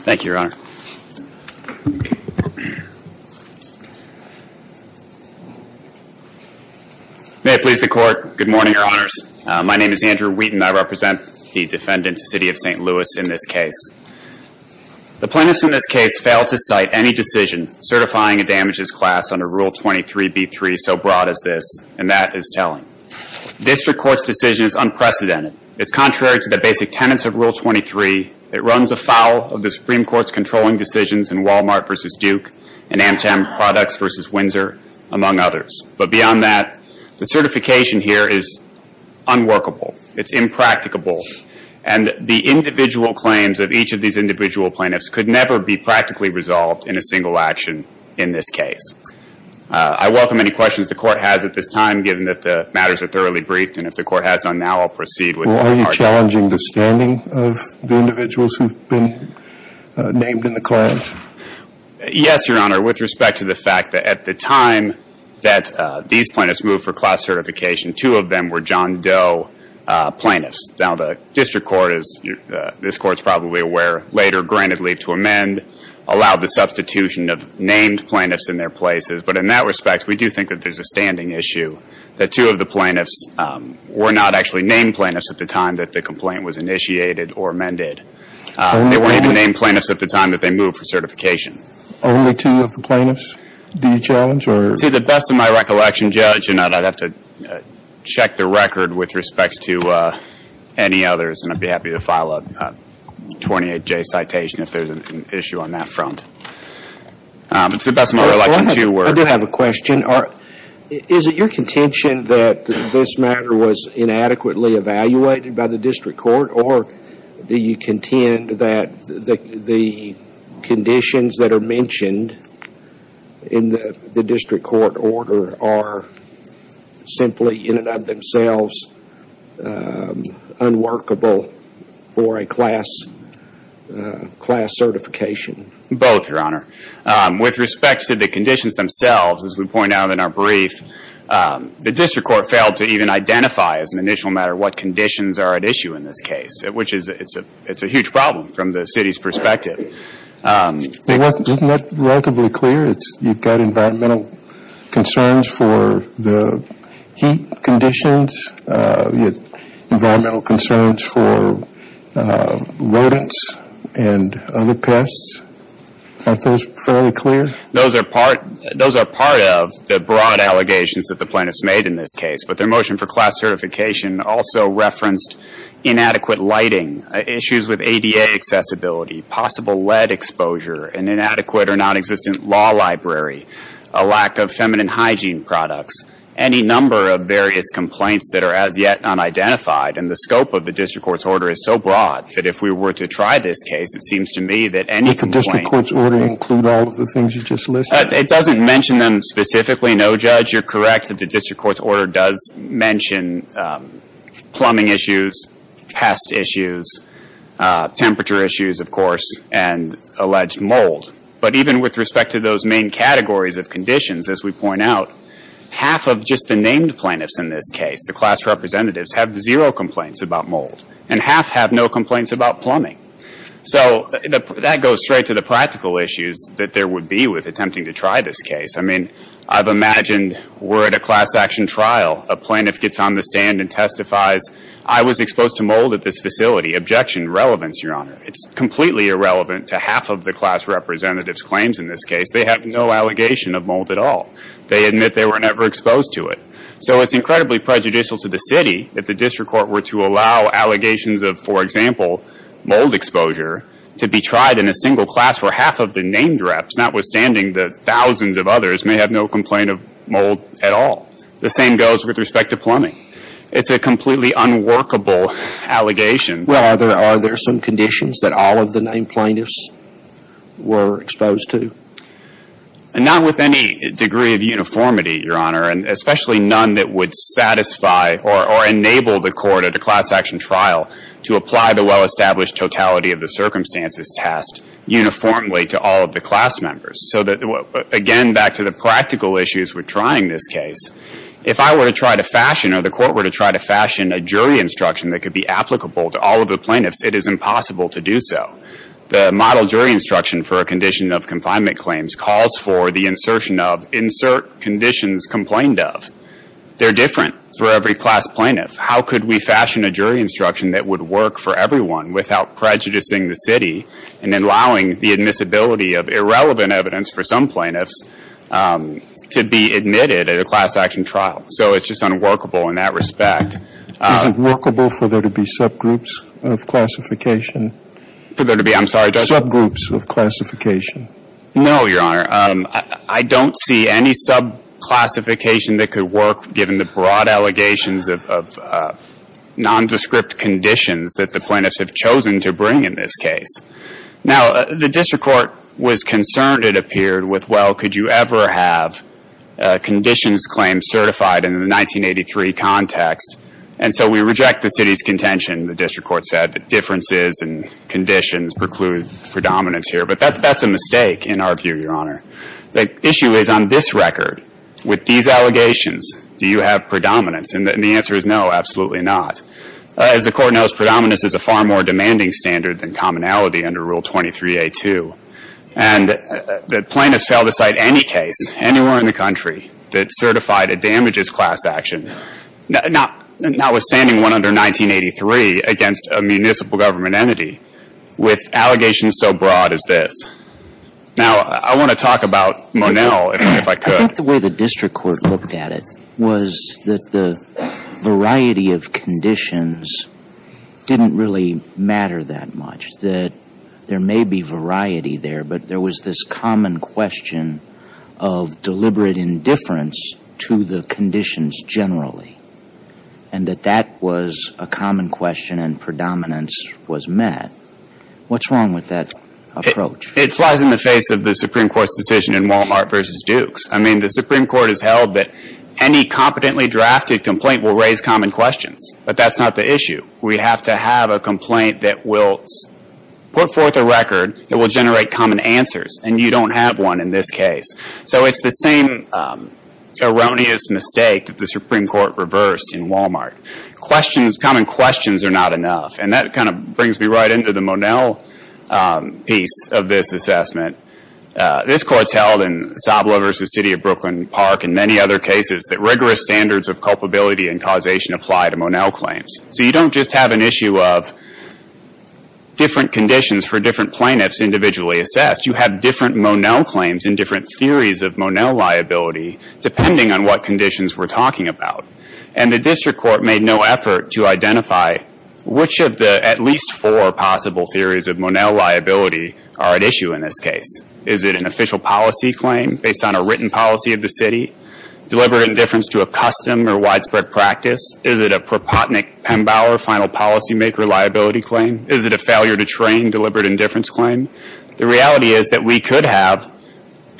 Thank you, Your Honor. May it please the Court, good morning, Your Honors. My name is Andrew Wheaton. I represent the defendant, City of St. Louis, in this case. The plaintiffs in this case failed to cite any decision certifying a damages class under Rule 23b3 so broad as this, and that is telling. District Court's decision is unprecedented. It's contrary to the basic tenets of Rule 23. It runs afoul of the Supreme Court's controlling decisions in Walmart v. Duke and Amtem Products v. Windsor, among others. But beyond that, the certification here is unworkable. It's impracticable. And the individual claims of each of these individual plaintiffs could never be practically resolved in a single action in this case. I welcome any questions the Court has at this time, given that the matters are thoroughly briefed. And if the Court has none now, I'll proceed with my argument. Well, are you challenging the standing of the individuals who've been named in the class? Yes, Your Honor, with respect to the fact that at the time that these plaintiffs moved for class certification, two of them were John Doe plaintiffs. Now, the District Court is, this Court's probably aware later, granted leave to amend, allowed the substitution of I do think that there's a standing issue that two of the plaintiffs were not actually named plaintiffs at the time that the complaint was initiated or amended. They weren't even named plaintiffs at the time that they moved for certification. Only two of the plaintiffs? Do you challenge or? See, to the best of my recollection, Judge, and I'd have to check the record with respect to any others, and I'd be happy to file a 28-J citation if there's an issue on that front. To the best of my recollection, too, we're I do have a question. Is it your contention that this matter was inadequately evaluated by the District Court, or do you contend that the conditions that are mentioned in the District Court order are simply in and of themselves unworkable for a class certification? Both, Your Honor. With respect to the conditions themselves, as we point out in our brief, the District Court failed to even identify as an initial matter what conditions are at issue in this case, which is, it's a huge problem from the city's perspective. Isn't that relatively clear? You've got environmental concerns for the heat conditions, you've got environmental concerns for rodents and other pests. Aren't those fairly clear? Those are part of the broad allegations that the plaintiffs made in this case, but their motion for class certification also referenced inadequate lighting, issues with ADA accessibility, possible lead exposure, an inadequate or nonexistent law library, a lack of feminine hygiene products, any number of various complaints that are as yet unidentified. And the scope of the District Court's order is so broad that if we were to try this case, it seems to me that any complaint — Did the District Court's order include all of the things you just listed? It doesn't mention them specifically, no, Judge. You're correct that the District Court's order does mention plumbing issues, pest issues, temperature issues, of course, and alleged mold. But even with respect to those main categories of conditions, as we point out, half of just the named plaintiffs in this case, the class representatives, have zero complaints about mold, and half have no complaints about plumbing. So that goes straight to the practical issues that there would be with attempting to try this case. I mean, I've imagined we're at a class action trial. A plaintiff gets on the stand and testifies, I was exposed to mold at this facility. Objection. Relevance, Your Honor. It's completely irrelevant to half of the class representative's claims in this case. They have no allegation of mold at all. They admit they were never exposed to it. So it's incredibly prejudicial to the City if the District Court were to allow allegations of, for example, mold exposure to be tried in a single class where half of the named reps, notwithstanding the thousands of others, may have no complaint of mold at all. The same goes with respect to plumbing. It's a completely unworkable allegation. Well, are there some conditions that all of the named plaintiffs were exposed to? Not with any degree of uniformity, Your Honor, and especially none that would satisfy or enable the court at a class action trial to apply the well-established totality of the circumstances test uniformly to all of the class members. So again, back to the practical issues with trying this case, if I were to try to fashion or the court were to try to fashion a jury instruction that could be applicable to all of the plaintiffs, it is impossible to do so. The model jury instruction for a condition of confinement claims calls for the insertion of, insert conditions complained of. They're different for every class plaintiff. How could we fashion a jury instruction that would work for everyone without prejudicing the City and allowing the admissibility of irrelevant evidence for some plaintiffs to be admitted at a class action trial? So it's just unworkable in that respect. Is it workable for there to be subgroups of classification? For there to be, I'm sorry, Judge? Subgroups of classification. No, Your Honor. I don't see any subclassification that could work given the broad allegations of nondescript conditions that the plaintiffs have chosen to bring in this case. Now, the District Court was concerned, it appeared, with, well, could you ever have conditions claims certified in the 1983 context? And so we reject the City's contention, the District Court said, that differences and conditions preclude predominance here. But that's a mistake in our view, Your Honor. The issue is, on this record, with these allegations, do you have predominance? And the answer is no, absolutely not. As the Court knows, predominance is a far more demanding standard than commonality under Rule 23A2. And the plaintiffs failed to cite any case, anywhere in the country, that certified a damages class action, notwithstanding one under 1983, against a municipal government entity, with allegations so broad as this. Now, I want to talk about Monell, if I could. I think the way the District Court looked at it was that the variety of conditions didn't really matter that much, that there may be variety there, but there was this common question of deliberate indifference to the conditions generally, and that that was a common question and predominance was met. What's wrong with that approach? It flies in the face of the Supreme Court's decision in Wal-Mart versus Dukes. I mean, the Supreme Court has held that any competently drafted complaint will raise common questions, but that's not the issue. We have to have a complaint that will put forth a record that will generate common answers, and you don't have one in this case. So it's the same erroneous mistake that the Supreme Court reversed in Wal-Mart. Questions, common questions are not enough, and that kind of brings me right into the Monell piece of this assessment. This Court's held in Soblo versus City of Brooklyn Park and many other cases that rigorous standards of culpability and causation apply to Monell claims. So you don't just have an issue of different conditions for different plaintiffs individually assessed. You have different Monell claims and different theories of Monell liability depending on what conditions we're talking about, and the District Court made no effort to identify which of the at least four possible theories of Monell liability are at issue in this case. Is it an official policy claim based on a written policy of the City? Deliberate indifference to a custom or widespread practice? Is it a Propotnick-Pembauer final policymaker liability claim? Is it a failure to train deliberate indifference claim? The reality is that we could have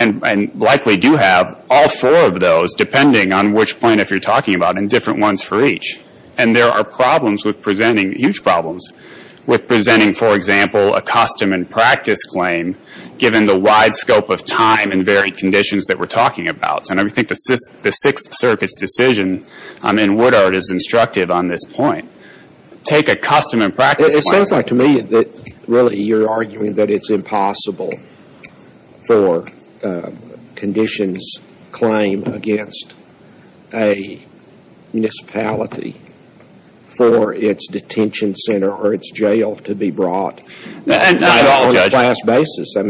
and likely do have all four of those depending on which plaintiff you're representing. Huge problems with presenting, for example, a custom and practice claim given the wide scope of time and varied conditions that we're talking about. I think the Sixth Circuit's decision in Woodard is instructive on this point. Take a custom and practice claim. It sounds like to me that really you're arguing that it's impossible for conditions claimed against a municipality for its detention center or its jail to be brought on a class basis. Not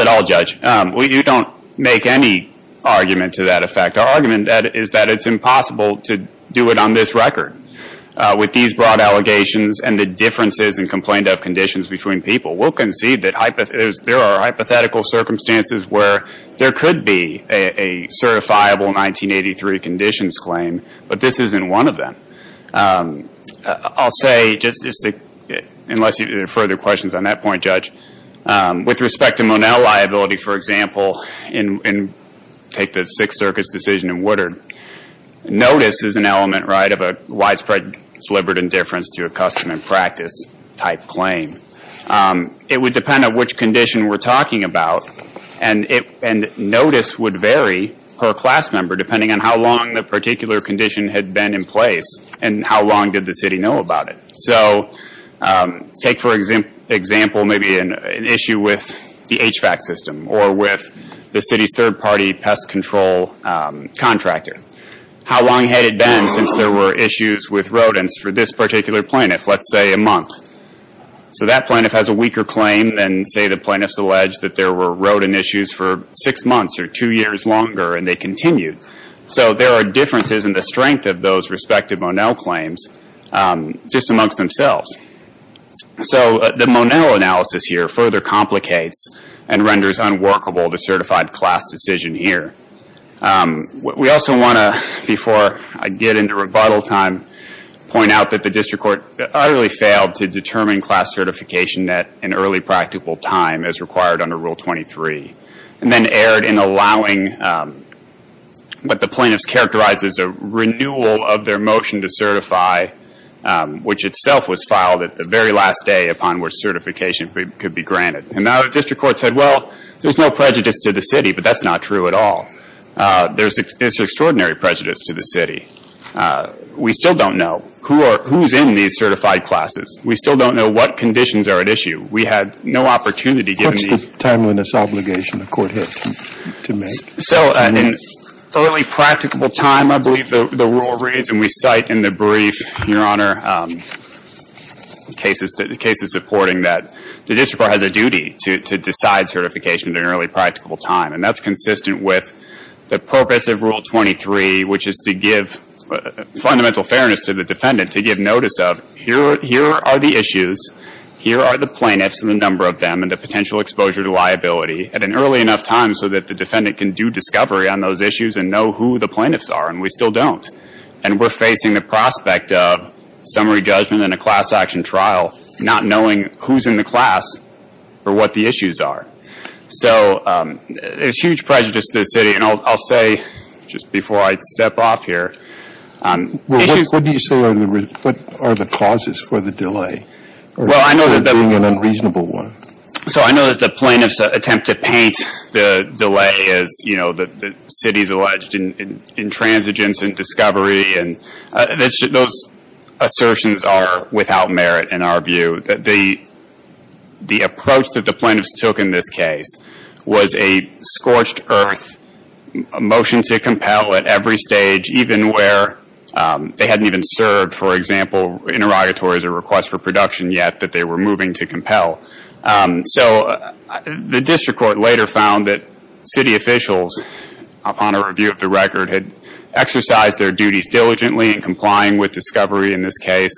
at all, Judge. You don't make any argument to that effect. Our argument is that it's impossible to do it on this record with these broad allegations and the differences in complained of conditions between people. We'll concede that there are hypothetical circumstances where there could be a certifiable 1983 conditions claim, but this isn't one of them. I'll say, unless you have further questions on that point, Judge, with respect to Monell liability, for example, take the Sixth Circuit's decision in Woodard, notice is an element of a widespread deliberate indifference to a custom and practice type claim. It would depend on which condition we're talking about and notice would vary per class member depending on how long the particular condition had been in place and how long did the city know about it. Take for example, maybe an issue with the HVAC system or with the city's third party pest control contractor. How long had it been since there were issues with rodents for this particular plaintiff? Let's say a month. That plaintiff has a weaker claim than say the plaintiff has alleged that there were rodent issues for six months or two years longer and they continued. So there are differences in the strength of those respective Monell claims just amongst themselves. So the Monell analysis here further complicates and renders unworkable the certified class decision here. We also want to, before I get into rebuttal time, point out that the district court utterly failed to determine class certification at an early practical time as required under Rule 23 and then erred in allowing what the plaintiffs characterized as a renewal of their motion to certify, which itself was filed at the very last day upon which certification could be granted. And now the district court said, well, there's no prejudice to the city, but that's not true at all. There's extraordinary prejudice to the city. We still don't know who's in these cases. And we had no opportunity given the… What's the timeliness obligation the court had to make? So in early practical time, I believe the rule reads, and we cite in the brief, Your Honor, cases supporting that the district court has a duty to decide certification at an early practical time. And that's consistent with the purpose of Rule 23, which is to give fundamental fairness to the defendant, to give notice of here are the issues, here are the plaintiffs and the number of them, and the potential exposure to liability at an early enough time so that the defendant can do discovery on those issues and know who the plaintiffs are. And we still don't. And we're facing the prospect of summary judgment and a class action trial, not knowing who's in the class or what the issues are. So there's huge prejudice to the city. And I'll say, just before I step off here… Well, what do you say are the causes for the delay? Well, I know that…… an unreasonable one. So I know that the plaintiffs attempt to paint the delay as, you know, the city's alleged intransigence and discovery. And those assertions are without merit in our view. The approach that the plaintiffs took in this case was a scorched earth motion to compel at every objection yet that they were moving to compel. So the district court later found that city officials, upon a review of the record, had exercised their duties diligently in complying with discovery in this case.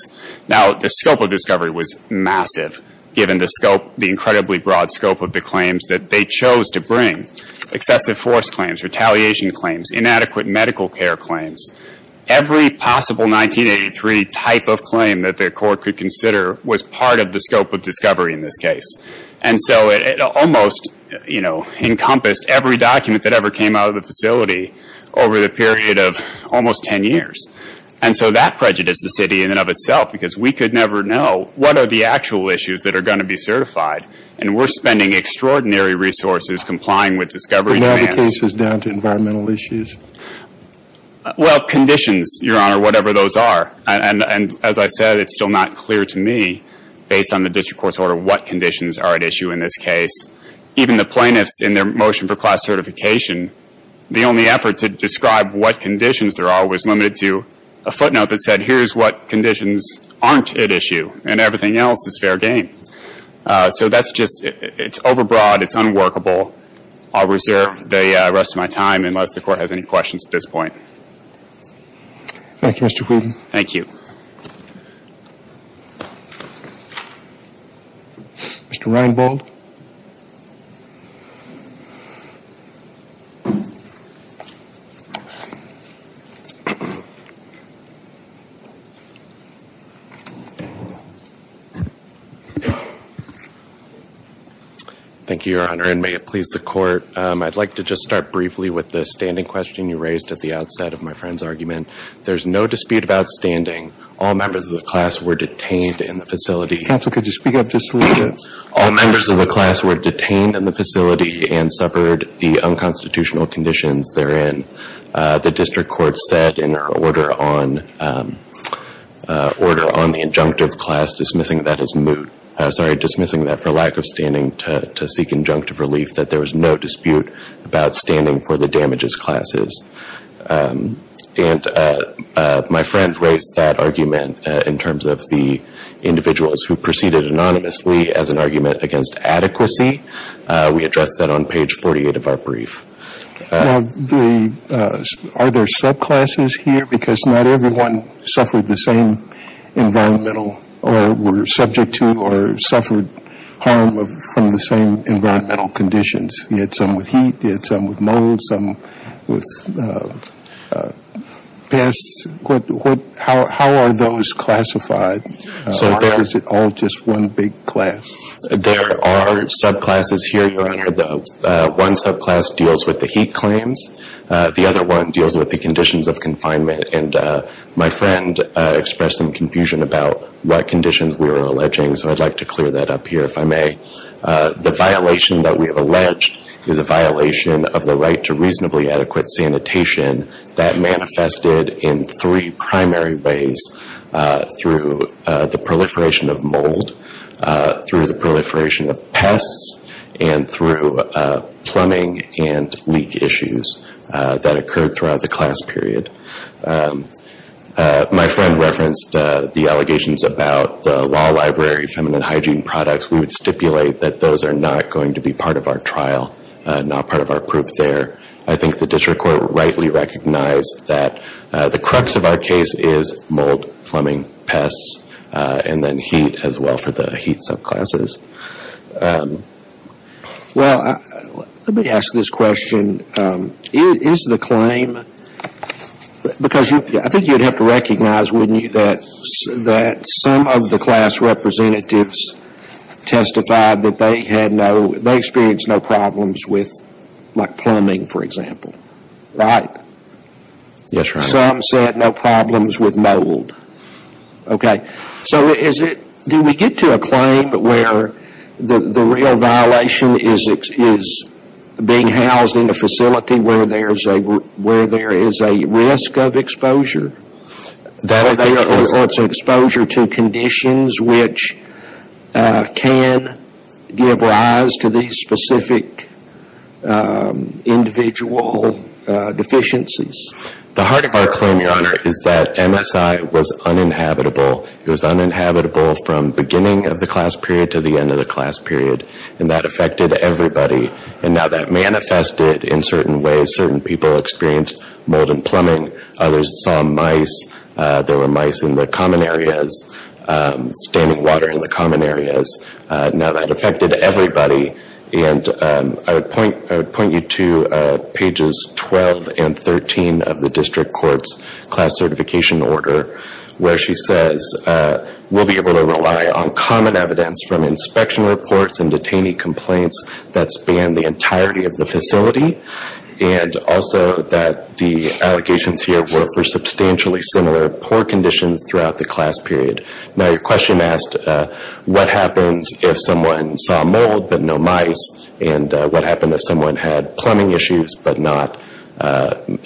Now, the scope of discovery was massive, given the scope, the incredibly broad scope of the claims that they chose to bring. Excessive force claims, retaliation claims, inadequate medical care claims. Every possible 1983 type of claim that the court could consider was part of the scope of discovery in this case. And so it almost, you know, encompassed every document that ever came out of the facility over the period of almost 10 years. And so that prejudiced the city in and of itself, because we could never know what are the actual issues that are going to be certified. And we're spending extraordinary resources complying with discovery demands. But now the case is down to environmental issues? Well, conditions, Your Honor, whatever those are. And as I said, it's still not clear to me, based on the district court's order, what conditions are at issue in this case. Even the plaintiffs in their motion for class certification, the only effort to describe what conditions there are was limited to a footnote that said, here's what conditions aren't at issue, and everything else is fair game. So that's just, it's overbroad, it's unworkable. I'll reserve the rest of my time, unless the court has any questions at this point. Thank you, Mr. Whelan. Thank you. Mr. Reinbold. Thank you, Your Honor, and may it please the court. I'd like to just start briefly with the standing question you raised at the outset of my friend's argument. There's no dispute about standing. All members of the class were detained in the facility. Counsel, could you speak up just a little bit? All members of the class were detained in the facility and suffered the unconstitutional conditions therein. The district court said in their order on the injunctive class, dismissing that as moot, sorry, dismissing that for lack of standing to seek injunctive relief, that there was no dispute about standing for the damages classes. And my friend raised that argument in terms of the individuals who proceeded anonymously as an argument against adequacy. We addressed that on page 48 of our brief. Are there subclasses here? Because not everyone suffered the same environmental or were subject to or suffered harm from the same environmental conditions. You had some with heat, you had some with mold, some with pests. How are those classified? Or is it all just one big class? There are subclasses here, Your Honor. One subclass deals with the heat claims. The other one deals with the conditions of confinement. And my friend expressed some confusion about what conditions we were alleging. So I'd like to clear that up here, if I may. The violation that we have alleged is a violation of the right to reasonably adequate sanitation that manifested in three primary ways through the proliferation of mold, through the proliferation of pests, and through plumbing and leak issues that occurred throughout the class period. My friend referenced the allegations about law library feminine hygiene products. We would stipulate that those are not going to be part of our trial, not part of our proof there. I think the district court rightly recognized that the crux of our case is mold, plumbing, pests, and then heat as well for the heat subclasses. Well, let me ask this question. Is the claim, because I think you'd have to recognize, that some of the class representatives testified that they experienced no problems with plumbing, for example, right? Yes, Your Honor. Some said no problems with mold. Okay. So do we get to a claim where the real violation is being housed in a facility where there is a risk of exposure, or it's an exposure to conditions which can give rise to these specific individual deficiencies? The heart of our claim, Your Honor, is that MSI was uninhabitable. It was uninhabitable from beginning of the class period to the end of the class period, and that affected everybody. And now that manifested in certain ways. Certain people experienced mold and plumbing. Others saw mice. There were mice in the common areas, standing water in the common areas. Now that affected everybody. And I would point you to pages 12 and 13 of the district court's class certification order, where she says, we'll be able to rely on common evidence from inspection reports and detainee complaints that span the entirety of the facility, and also that the allegations here were for substantially similar poor conditions throughout the class period. Now your question asked what happens if someone saw mold but no mice, and what happened if someone had plumbing issues but not mold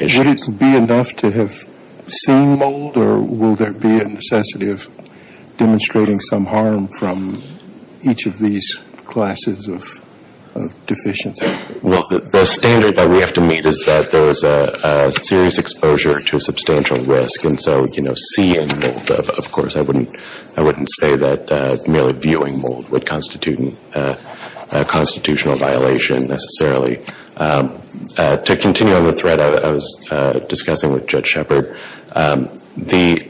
issues? Would it be enough to have seen mold, or will there be a necessity of demonstrating some harm from each of these classes of deficiencies? Well, the standard that we have to meet is that there is a serious exposure to substantial risk. And so, you know, seeing mold, of course, I wouldn't say that merely viewing mold would constitute a constitutional violation, necessarily. To continue on the thread I was discussing with Judge Shepard, the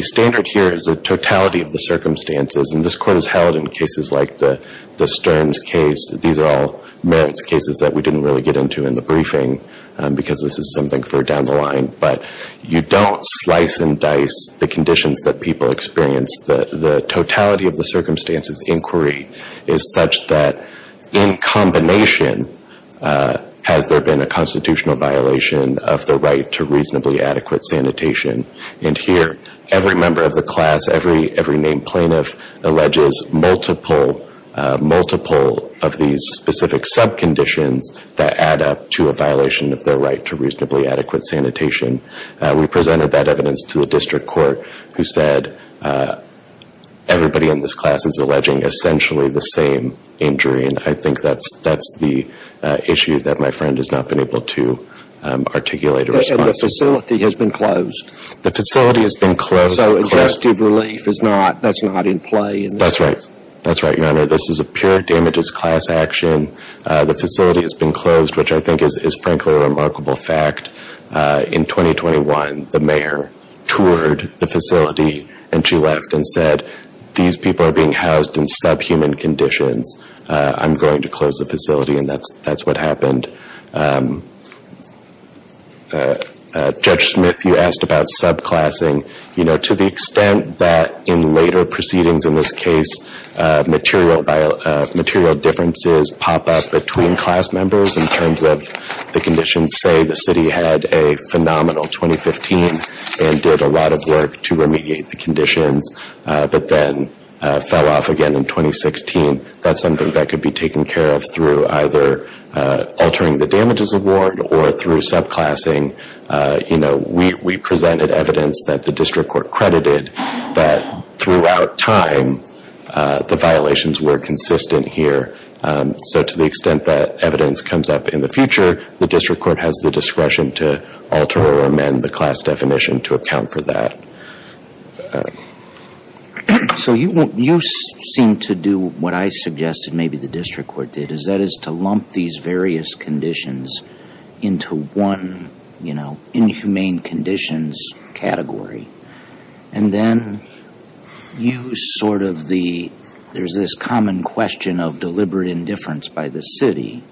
standard here is the totality of the circumstances. And this Court has held in cases like the Stearns case, these are all merits cases that we didn't really get into in the briefing, because this is something for down the line. But you don't slice and dice the conditions that people experience. The totality of the circumstances inquiry is such that in combination has there been a constitutional violation of the right to reasonably adequate sanitation. And here every member of the class, every named plaintiff alleges multiple of these specific sub-conditions that add up to a violation of their right to reasonably adequate sanitation. We presented that evidence to the District Court who said that everybody in this class is alleging essentially the same injury. And I think that's the issue that my friend has not been able to articulate a response to. And the facility has been closed. The facility has been closed. So, adjusted relief is not, that's not in play. That's right. That's right, Your Honor. This is a pure damages class action. The facility has been closed, which I think is frankly a remarkable fact. In 2021, the mayor toured the facility and she left and said, these people are being housed in sub-human conditions. I'm going to close the facility and that's what happened. Judge Smith, you asked about sub-classing. You know, to the extent that in later proceedings in this case, material differences pop up between class members in terms of the conditions. Say the city had a phenomenal 2015 and did a lot of work to remediate the conditions, but then fell off again in 2016. That's something that could be taken care of through either altering the damages award or through sub-classing. You know, we presented evidence that the District Court credited that throughout time, the violations were consistent here. So, to the extent that evidence comes up in the future, the District Court has the discretion to alter or amend the class definition to account for that. So, you seem to do what I suggested maybe the District Court did, is that is to lump these and then use sort of the, there's this common question of deliberate indifference by the city.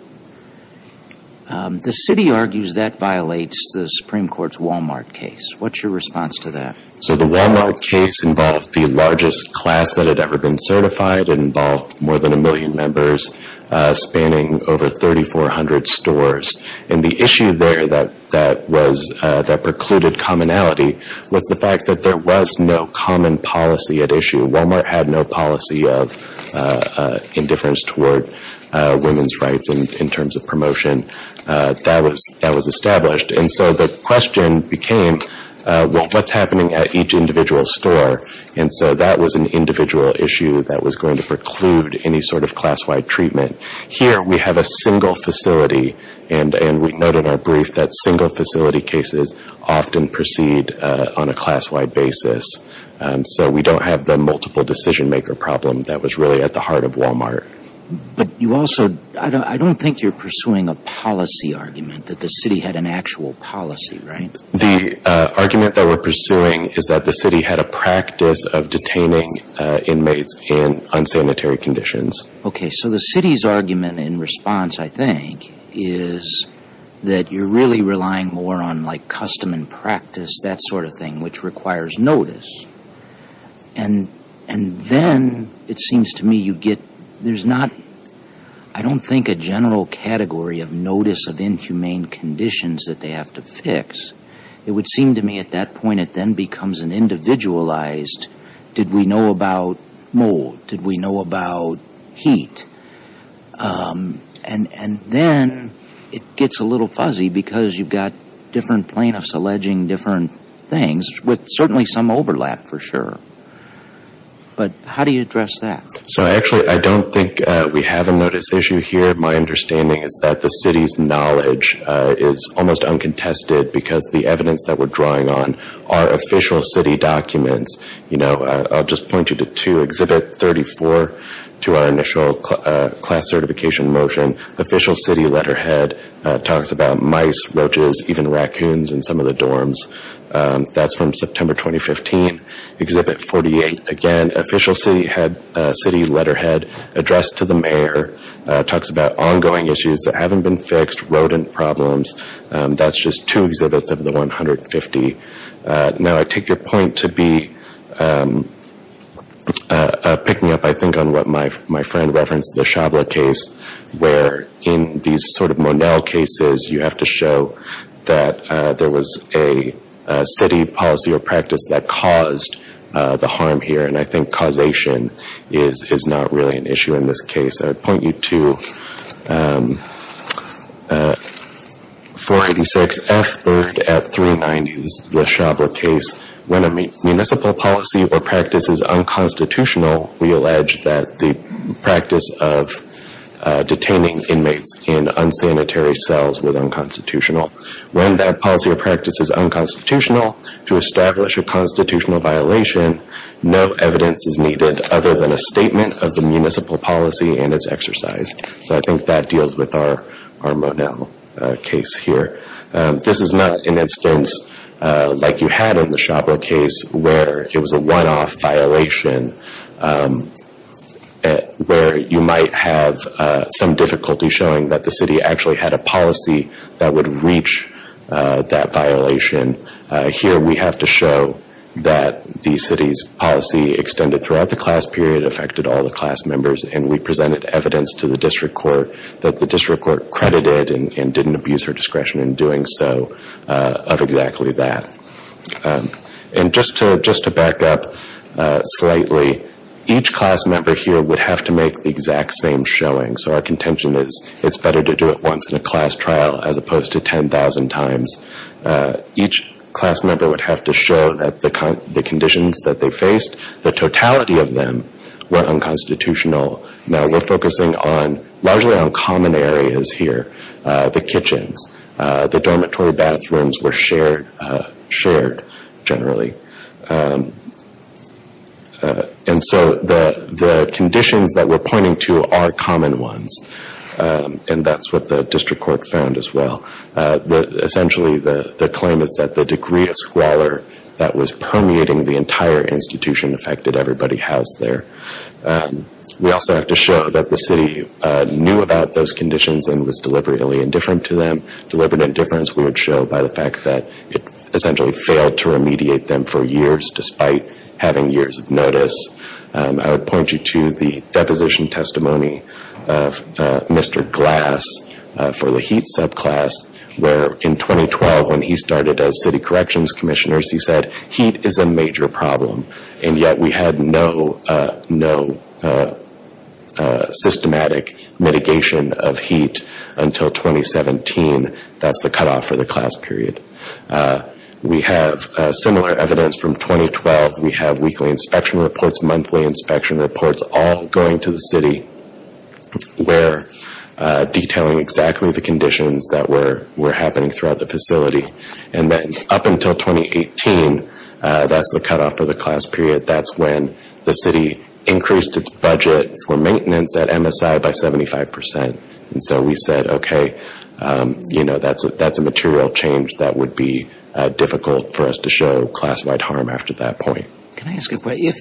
The city argues that violates the Supreme Court's Walmart case. What's your response to that? So, the Walmart case involved the largest class that had ever been certified. It involved more than a million members, spanning over 3,400 stores. And the issue there that precluded commonality was the fact that there was no common policy at issue. Walmart had no policy of indifference toward women's rights in terms of promotion. That was established. And so, the question became, well, what's happening at each individual store? And so, that was an individual issue that was going to preclude any sort of class-wide treatment. Here, we have a single facility, and we noted in our brief that single facility cases often proceed on a class-wide basis. So, we don't have the multiple decision-maker problem that was really at the heart of Walmart. But you also, I don't think you're pursuing a policy argument that the city had an actual policy, right? The argument that we're pursuing is that the city had a practice of detaining inmates in unsanitary conditions. Okay. So, the city's argument in response, I think, is that you're really relying more on, like, custom and practice, that sort of thing, which requires notice. And then, it seems to me you get, there's not, I don't think a general category of notice of inhumane conditions that they have to fix. It would seem to me at that point, it then becomes an individualized, did we know about mold? Did we know about heat? And then, it gets a little fuzzy because you've got different plaintiffs alleging different things, with certainly some overlap, for sure. But how do you address that? So, actually, I don't think we have a notice issue here. My understanding is that the city's knowledge is almost uncontested because the evidence that we're drawing on are official documents. I'll just point you to two. Exhibit 34, to our initial class certification motion, official city letterhead talks about mice, roaches, even raccoons in some of the dorms. That's from September 2015. Exhibit 48, again, official city letterhead addressed to the mayor, talks about ongoing issues that haven't been fixed, rodent problems. That's just two exhibits of the 150. Now, I take your point to be, pick me up, I think, on what my friend referenced, the Shabla case, where in these sort of Monell cases, you have to show that there was a city policy or practice that caused the harm here. And I think causation is not really an issue in this case. I'd point you to 486F, third at 390, the Shabla case. When a municipal policy or practice is unconstitutional, we allege that the practice of detaining inmates in unsanitary cells was unconstitutional. When that policy or practice is unconstitutional, to establish a exercise. So I think that deals with our Monell case here. This is not an instance like you had in the Shabla case, where it was a one-off violation, where you might have some difficulty showing that the city actually had a policy that would reach that violation. Here we have to show that the city's policy extended throughout the class period, affected all the class members, and we presented evidence to the district court that the district court credited and didn't abuse her discretion in doing so of exactly that. And just to back up slightly, each class member here would have to make the exact same showing. So our contention is it's better to do it once in a class trial as opposed to 10,000 times. Each class member would have to show that the conditions that they faced, the totality of them, were unconstitutional. Now we're focusing largely on common areas here. The kitchens, the dormitory bathrooms were shared generally. And so the conditions that we're pointing to are common ones. And that's what the district court found as well. Essentially the claim is that the degree of squalor that was permeating the entire institution affected everybody housed there. We also have to show that the city knew about those conditions and was deliberately indifferent to them. Deliberate indifference we would show by the fact that it essentially failed to remediate them for years despite having years of notice. I would point you to the deposition testimony of Mr. Glass for the HEAT subclass, where in 2012 when he started as city corrections commissioner, he said, HEAT is a major problem. And yet we had no systematic mitigation of HEAT until 2017. That's the cutoff for the class period. We have similar evidence from 2012. We have weekly inspection reports, monthly inspection reports, all going to the city where detailing exactly the conditions that were happening throughout the facility. And then up until 2018, that's the cutoff for the class period. That's when the city increased its budget for maintenance at MSI by 75%. And so we said, okay, that's a material change that would be difficult for us to show class-wide harm after that point. Can I ask a question?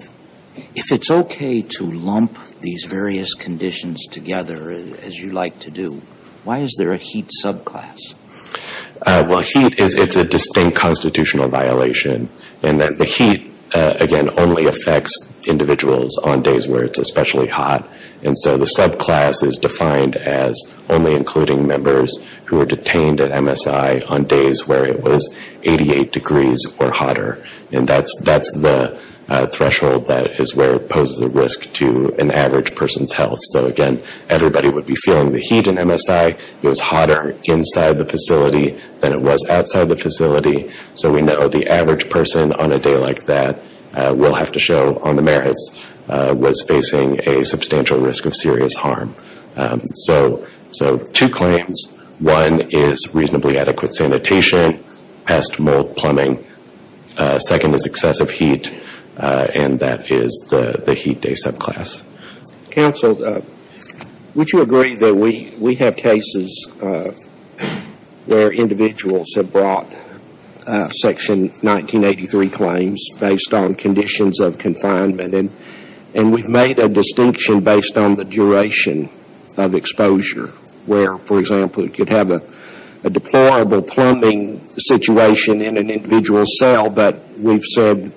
If it's okay to lump these various conditions together as you like to do, why is there a HEAT subclass? Well, HEAT, it's a distinct constitutional violation in that the HEAT, again, only affects individuals on days where it's especially hot. And so the subclass is defined as only including members who were detained at MSI on days where it was 88 degrees or hotter. And that's the threshold that is where it poses a risk to an average person's health. So again, everybody would be feeling the HEAT in MSI. It was hotter inside the facility than it was outside the facility. So we know the average person on a day like that will have to show on the merits was facing a substantial risk of serious harm. So two claims. One is reasonably adequate sanitation, pest mold plumbing. Second is excessive heat. And that is the HEAT day subclass. Counsel, would you agree that we have cases where individuals have brought Section 1983 claims based on conditions of confinement? And we've made a distinction based on the duration of exposure where, for example, it could have a deplorable plumbing situation in an individual cell, but we've said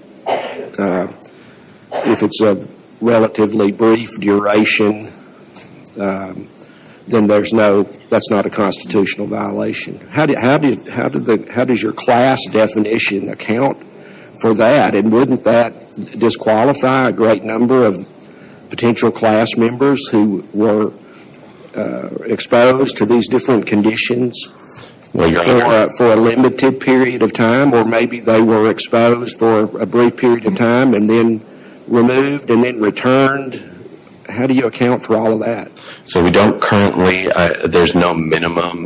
if it's a relatively brief duration, then that's not a constitutional violation. How does your class definition account for that? And wouldn't that disqualify a great number of potential class members who were exposed to these different conditions for a limited period of time or maybe they were exposed for a brief period of time and then removed and then returned? How do you account for all of that? So we don't currently, there's no minimum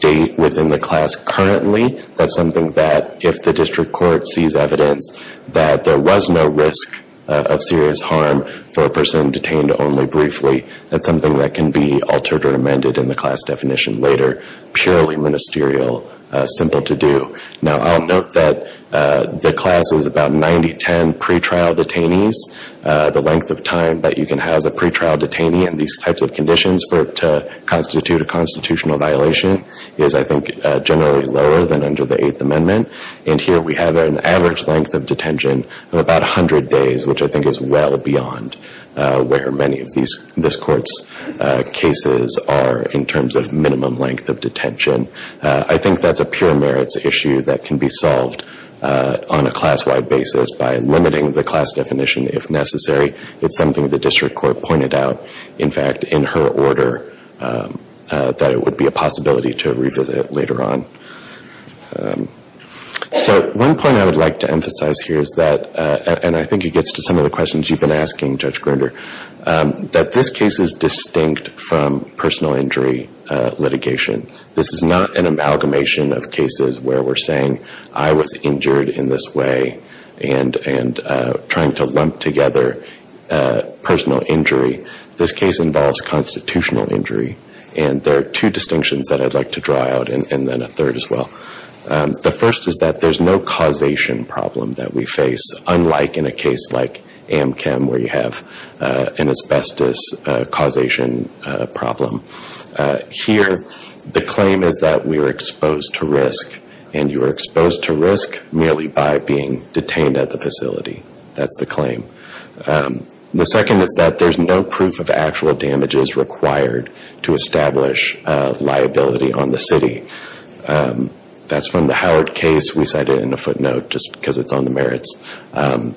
date within the class currently. That's something that if the district court sees evidence that there was no risk of serious harm for a person detained only briefly, that's something that can be altered or amended in the class definition later. Purely ministerial, simple to do. Now I'll note that the class is about 90-10 pretrial detainees. The length of time that you can have as a pretrial detainee in these types of conditions to constitute a constitutional violation is, I think, generally lower than under the Eighth Amendment. And here we have an average length of detention of about 100 days, which I think is well beyond where many of these this court's cases are in terms of minimum length of detention. I think that's a pure merits issue that can be solved on a class-wide basis by limiting the class definition if necessary. It's something the district court pointed out, in fact, in her order that it would be a possibility to revisit later on. So one point I would like to emphasize here is that, and I think it gets to some of the questions you've been asking, Judge Grinder, that this case is distinct from personal injury litigation. This is not an amalgamation of cases where we're saying, I was injured in this way and trying to lump together personal injury. This case involves constitutional injury, and there are two distinctions that I'd like to draw out, and then a third as well. The first is that there's no causation problem that we face, unlike in a case like Amchem, where you have an asbestos causation problem. Here, the claim is that we are exposed to risk, and you are exposed to risk merely by being detained at the facility. That's the claim. The second is that there's no proof of actual damages required to establish liability on the city. That's from the Howard case. We cite it in a footnote just because it's on the merits, and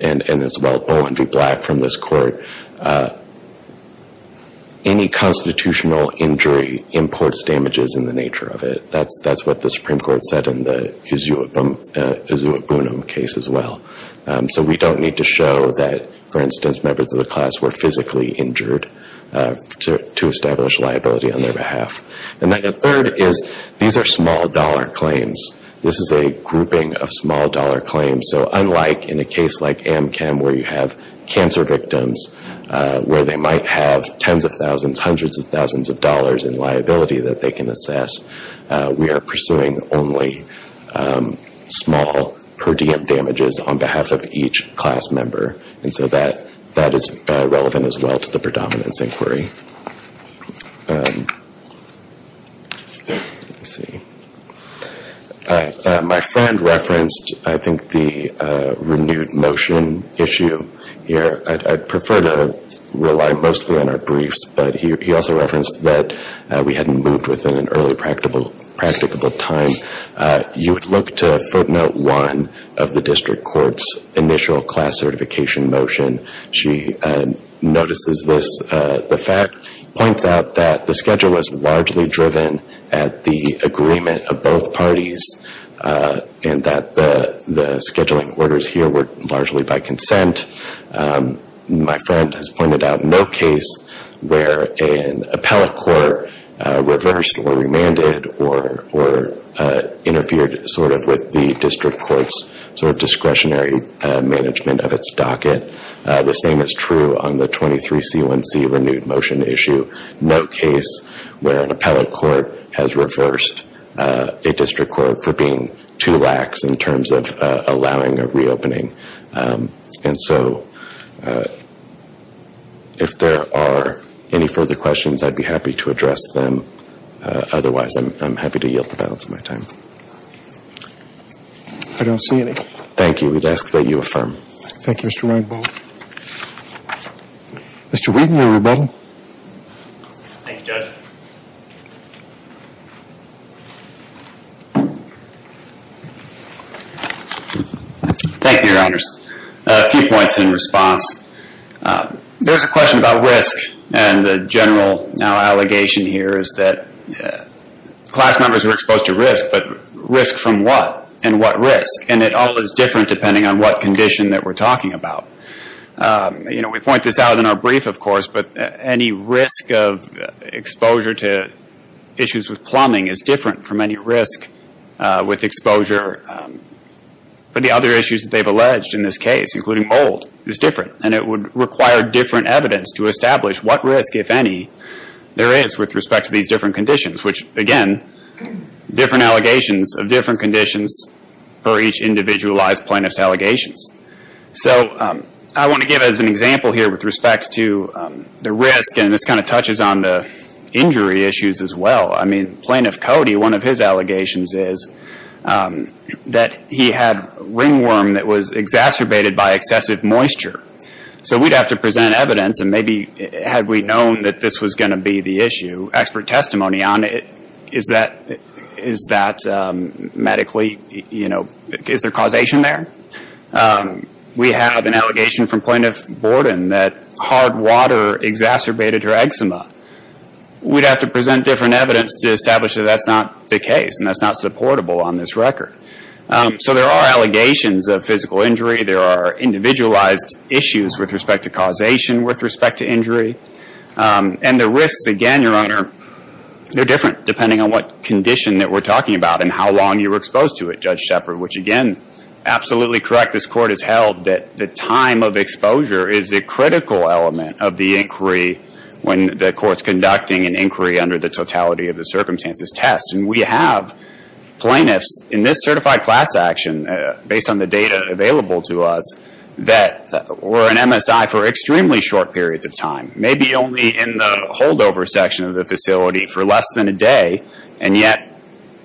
it's about Bowen v. Black from this court. Any constitutional injury imports damages in the nature of it. That's what the Supreme Court said in the case. We don't need to show that, for instance, members of the class were physically injured to establish liability on their behalf. The third is, these are small dollar claims. This is a grouping of small dollar claims. Unlike in a case like Amchem, where you have cancer victims, where they might have tens of thousands, hundreds of thousands of dollars in liability that they can assess, we are pursuing only small per diem damages on behalf of each class member. That is relevant as well to the predominance inquiry. My friend referenced the renewed motion issue here. I'd prefer to rely mostly on our briefs, but he also referenced that we hadn't moved within an early practicable time. You would look to footnote one of the district court's initial class certification motion. She notices this. The fact points out that the schedule was largely driven at the agreement of both parties, and that the scheduling orders here were largely by consent. My friend has pointed out no case where an appellate court reversed or remanded or interfered with the district court's discretionary management of its docket. The same is true on the 23C1C renewed motion issue. No case where an appellate court has reversed a district court for being too lax in terms of any further questions. I'd be happy to address them. Otherwise, I'm happy to yield the balance of my time. I don't see any. Thank you. We'd ask that you affirm. Thank you, Mr. Weinbold. Mr. Wheaton, everybody. Thank you, Judge. Thank you, Your Honors. A few points in response. There's a question about risk, and the general allegation here is that class members were exposed to risk, but risk from what and what risk? It all is different depending on what condition that we're talking about. We point this out in our brief, of course, but any risk of exposure to issues with plumbing is different from any risk with exposure for the other issues that they've alleged in this case, including mold, is different. It would require different evidence to establish what risk, if any, there is with respect to these different conditions, which, again, different allegations of different conditions for each individualized plaintiff's allegations. I want to give as an example here with respect to the risk, and this touches on the injury issues as well. Plaintiff Cody, one of his allegations is that he had ringworm that was exacerbated by excessive moisture. We'd have to present evidence, and maybe had we known that this was going to be the issue, expert testimony on it, is that medically, is there causation there? We have an allegation from Plaintiff Borden that hard water exacerbated her eczema. We'd have to present different evidence to establish that that's not the case, and that's not supportable on this record. So there are allegations of physical injury. There are individualized issues with respect to causation, with respect to injury, and the risks, again, Your Honor, they're different depending on what condition that we're talking about and how long you were exposed to it, Judge Shepard, which, again, absolutely correct. This court has held that the time of exposure is a critical element of the inquiry when the court's conducting an inquiry under the totality of the circumstances test, and we have plaintiffs in this certified class action, based on the data available to us, that were in MSI for extremely short periods of time, maybe only in the holdover section of the facility for less than a day, and yet,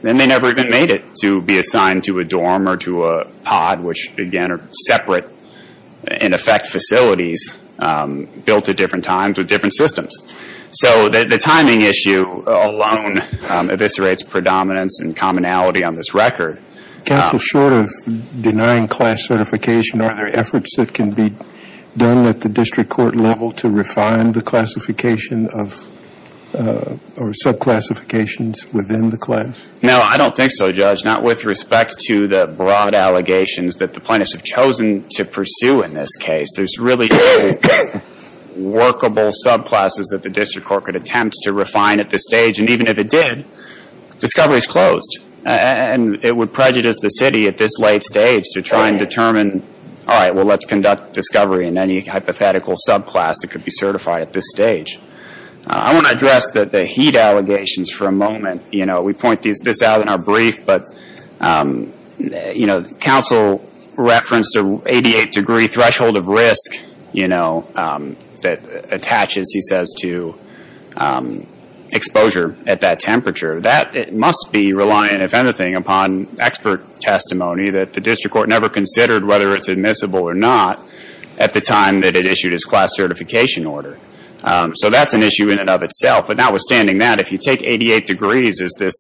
then they never even made it to be assigned to a dorm or to a pod, which, again, are separate, in effect, facilities built at different times with different systems. So the timing issue alone eviscerates predominance and commonality on this record. Counsel, short of denying class certification, are there efforts that can be done at the district court level to refine the classification or subclassifications within the broad allegations that the plaintiffs have chosen to pursue in this case? There's really workable subclasses that the district court could attempt to refine at this stage, and even if it did, discovery is closed, and it would prejudice the city at this late stage to try and determine, all right, well, let's conduct discovery in any hypothetical subclass that could be certified at this stage. I want to address the heat allegations for a moment. We point this out in our brief, but counsel referenced the 88 degree threshold of risk that attaches, he says, to exposure at that temperature. That must be reliant, if anything, upon expert testimony that the district court never considered whether it's admissible or not at the time that it issued its class certification order. So that's an issue in and of itself, but notwithstanding that, if you take 88 degrees as this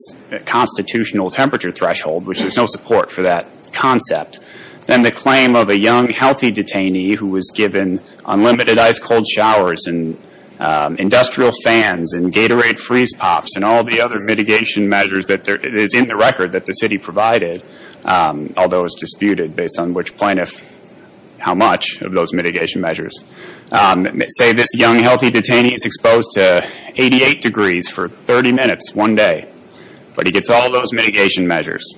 constitutional temperature threshold, which there's no support for that concept, then the claim of a young, healthy detainee who was given unlimited ice-cold showers and industrial fans and Gatorade freeze pops and all the other mitigation measures that is in the record that the city provided, although it's disputed based on which plaintiff, how much of measures. Say this young, healthy detainee is exposed to 88 degrees for 30 minutes, one day, but he gets all those mitigation measures.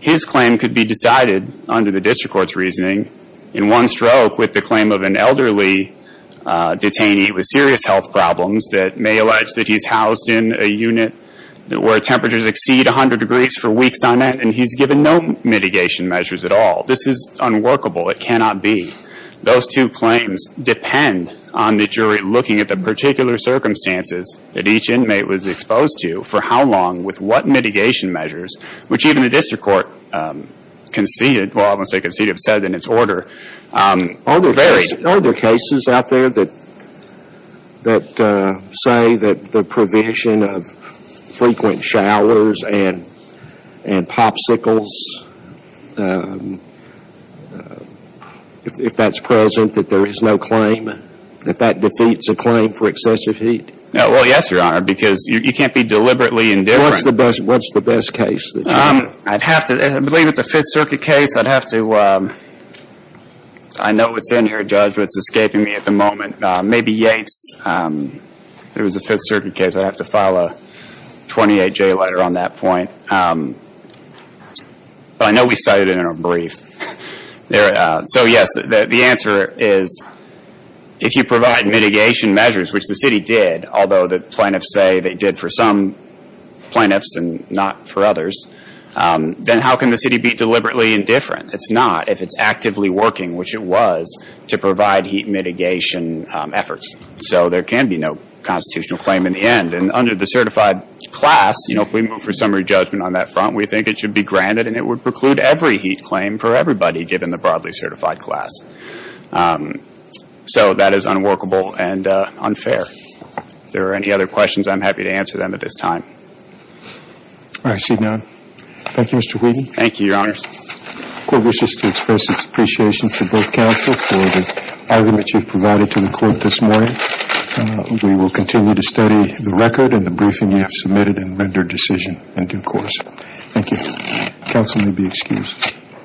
His claim could be decided under the district court's reasoning in one stroke with the claim of an elderly detainee with serious health problems that may allege that he's housed in a unit where temperatures exceed 100 degrees for weeks on end and he's given no mitigation measures at all. This is unworkable. It cannot be. Those two claims depend on the jury looking at the particular circumstances that each inmate was exposed to for how long, with what mitigation measures, which even the district court conceded, well I won't say conceded, but said in its order. Are there cases out there that say that the provision of popsicles, if that's present, that there is no claim, that that defeats a claim for excessive heat? Well, yes, Your Honor, because you can't be deliberately indifferent. What's the best case? I'd have to, I believe it's a Fifth Circuit case, I'd have to, I know it's in here, Judge, but it's escaping me at the moment. Maybe Yates. If it was a Fifth Circuit case, I'd have to file a 28J letter on that point. But I know we cited it in a brief. So yes, the answer is, if you provide mitigation measures, which the city did, although the plaintiffs say they did for some plaintiffs and not for others, then how can the city be deliberately indifferent? It's not if it's actively working, which it was, to provide heat mitigation efforts. So there can be no claim in the end. And under the certified class, you know, if we move for summary judgment on that front, we think it should be granted and it would preclude every heat claim for everybody, given the broadly certified class. So that is unworkable and unfair. If there are any other questions, I'm happy to answer them at this time. All right. I see none. Thank you, Mr. Whedon. Thank you, Your Honors. The Court wishes to express its appreciation to both counsel for the argument you've provided to the Court this morning. We will continue to study the record and the briefing you have submitted and rendered decision in due course. Thank you. Counsel may be excused.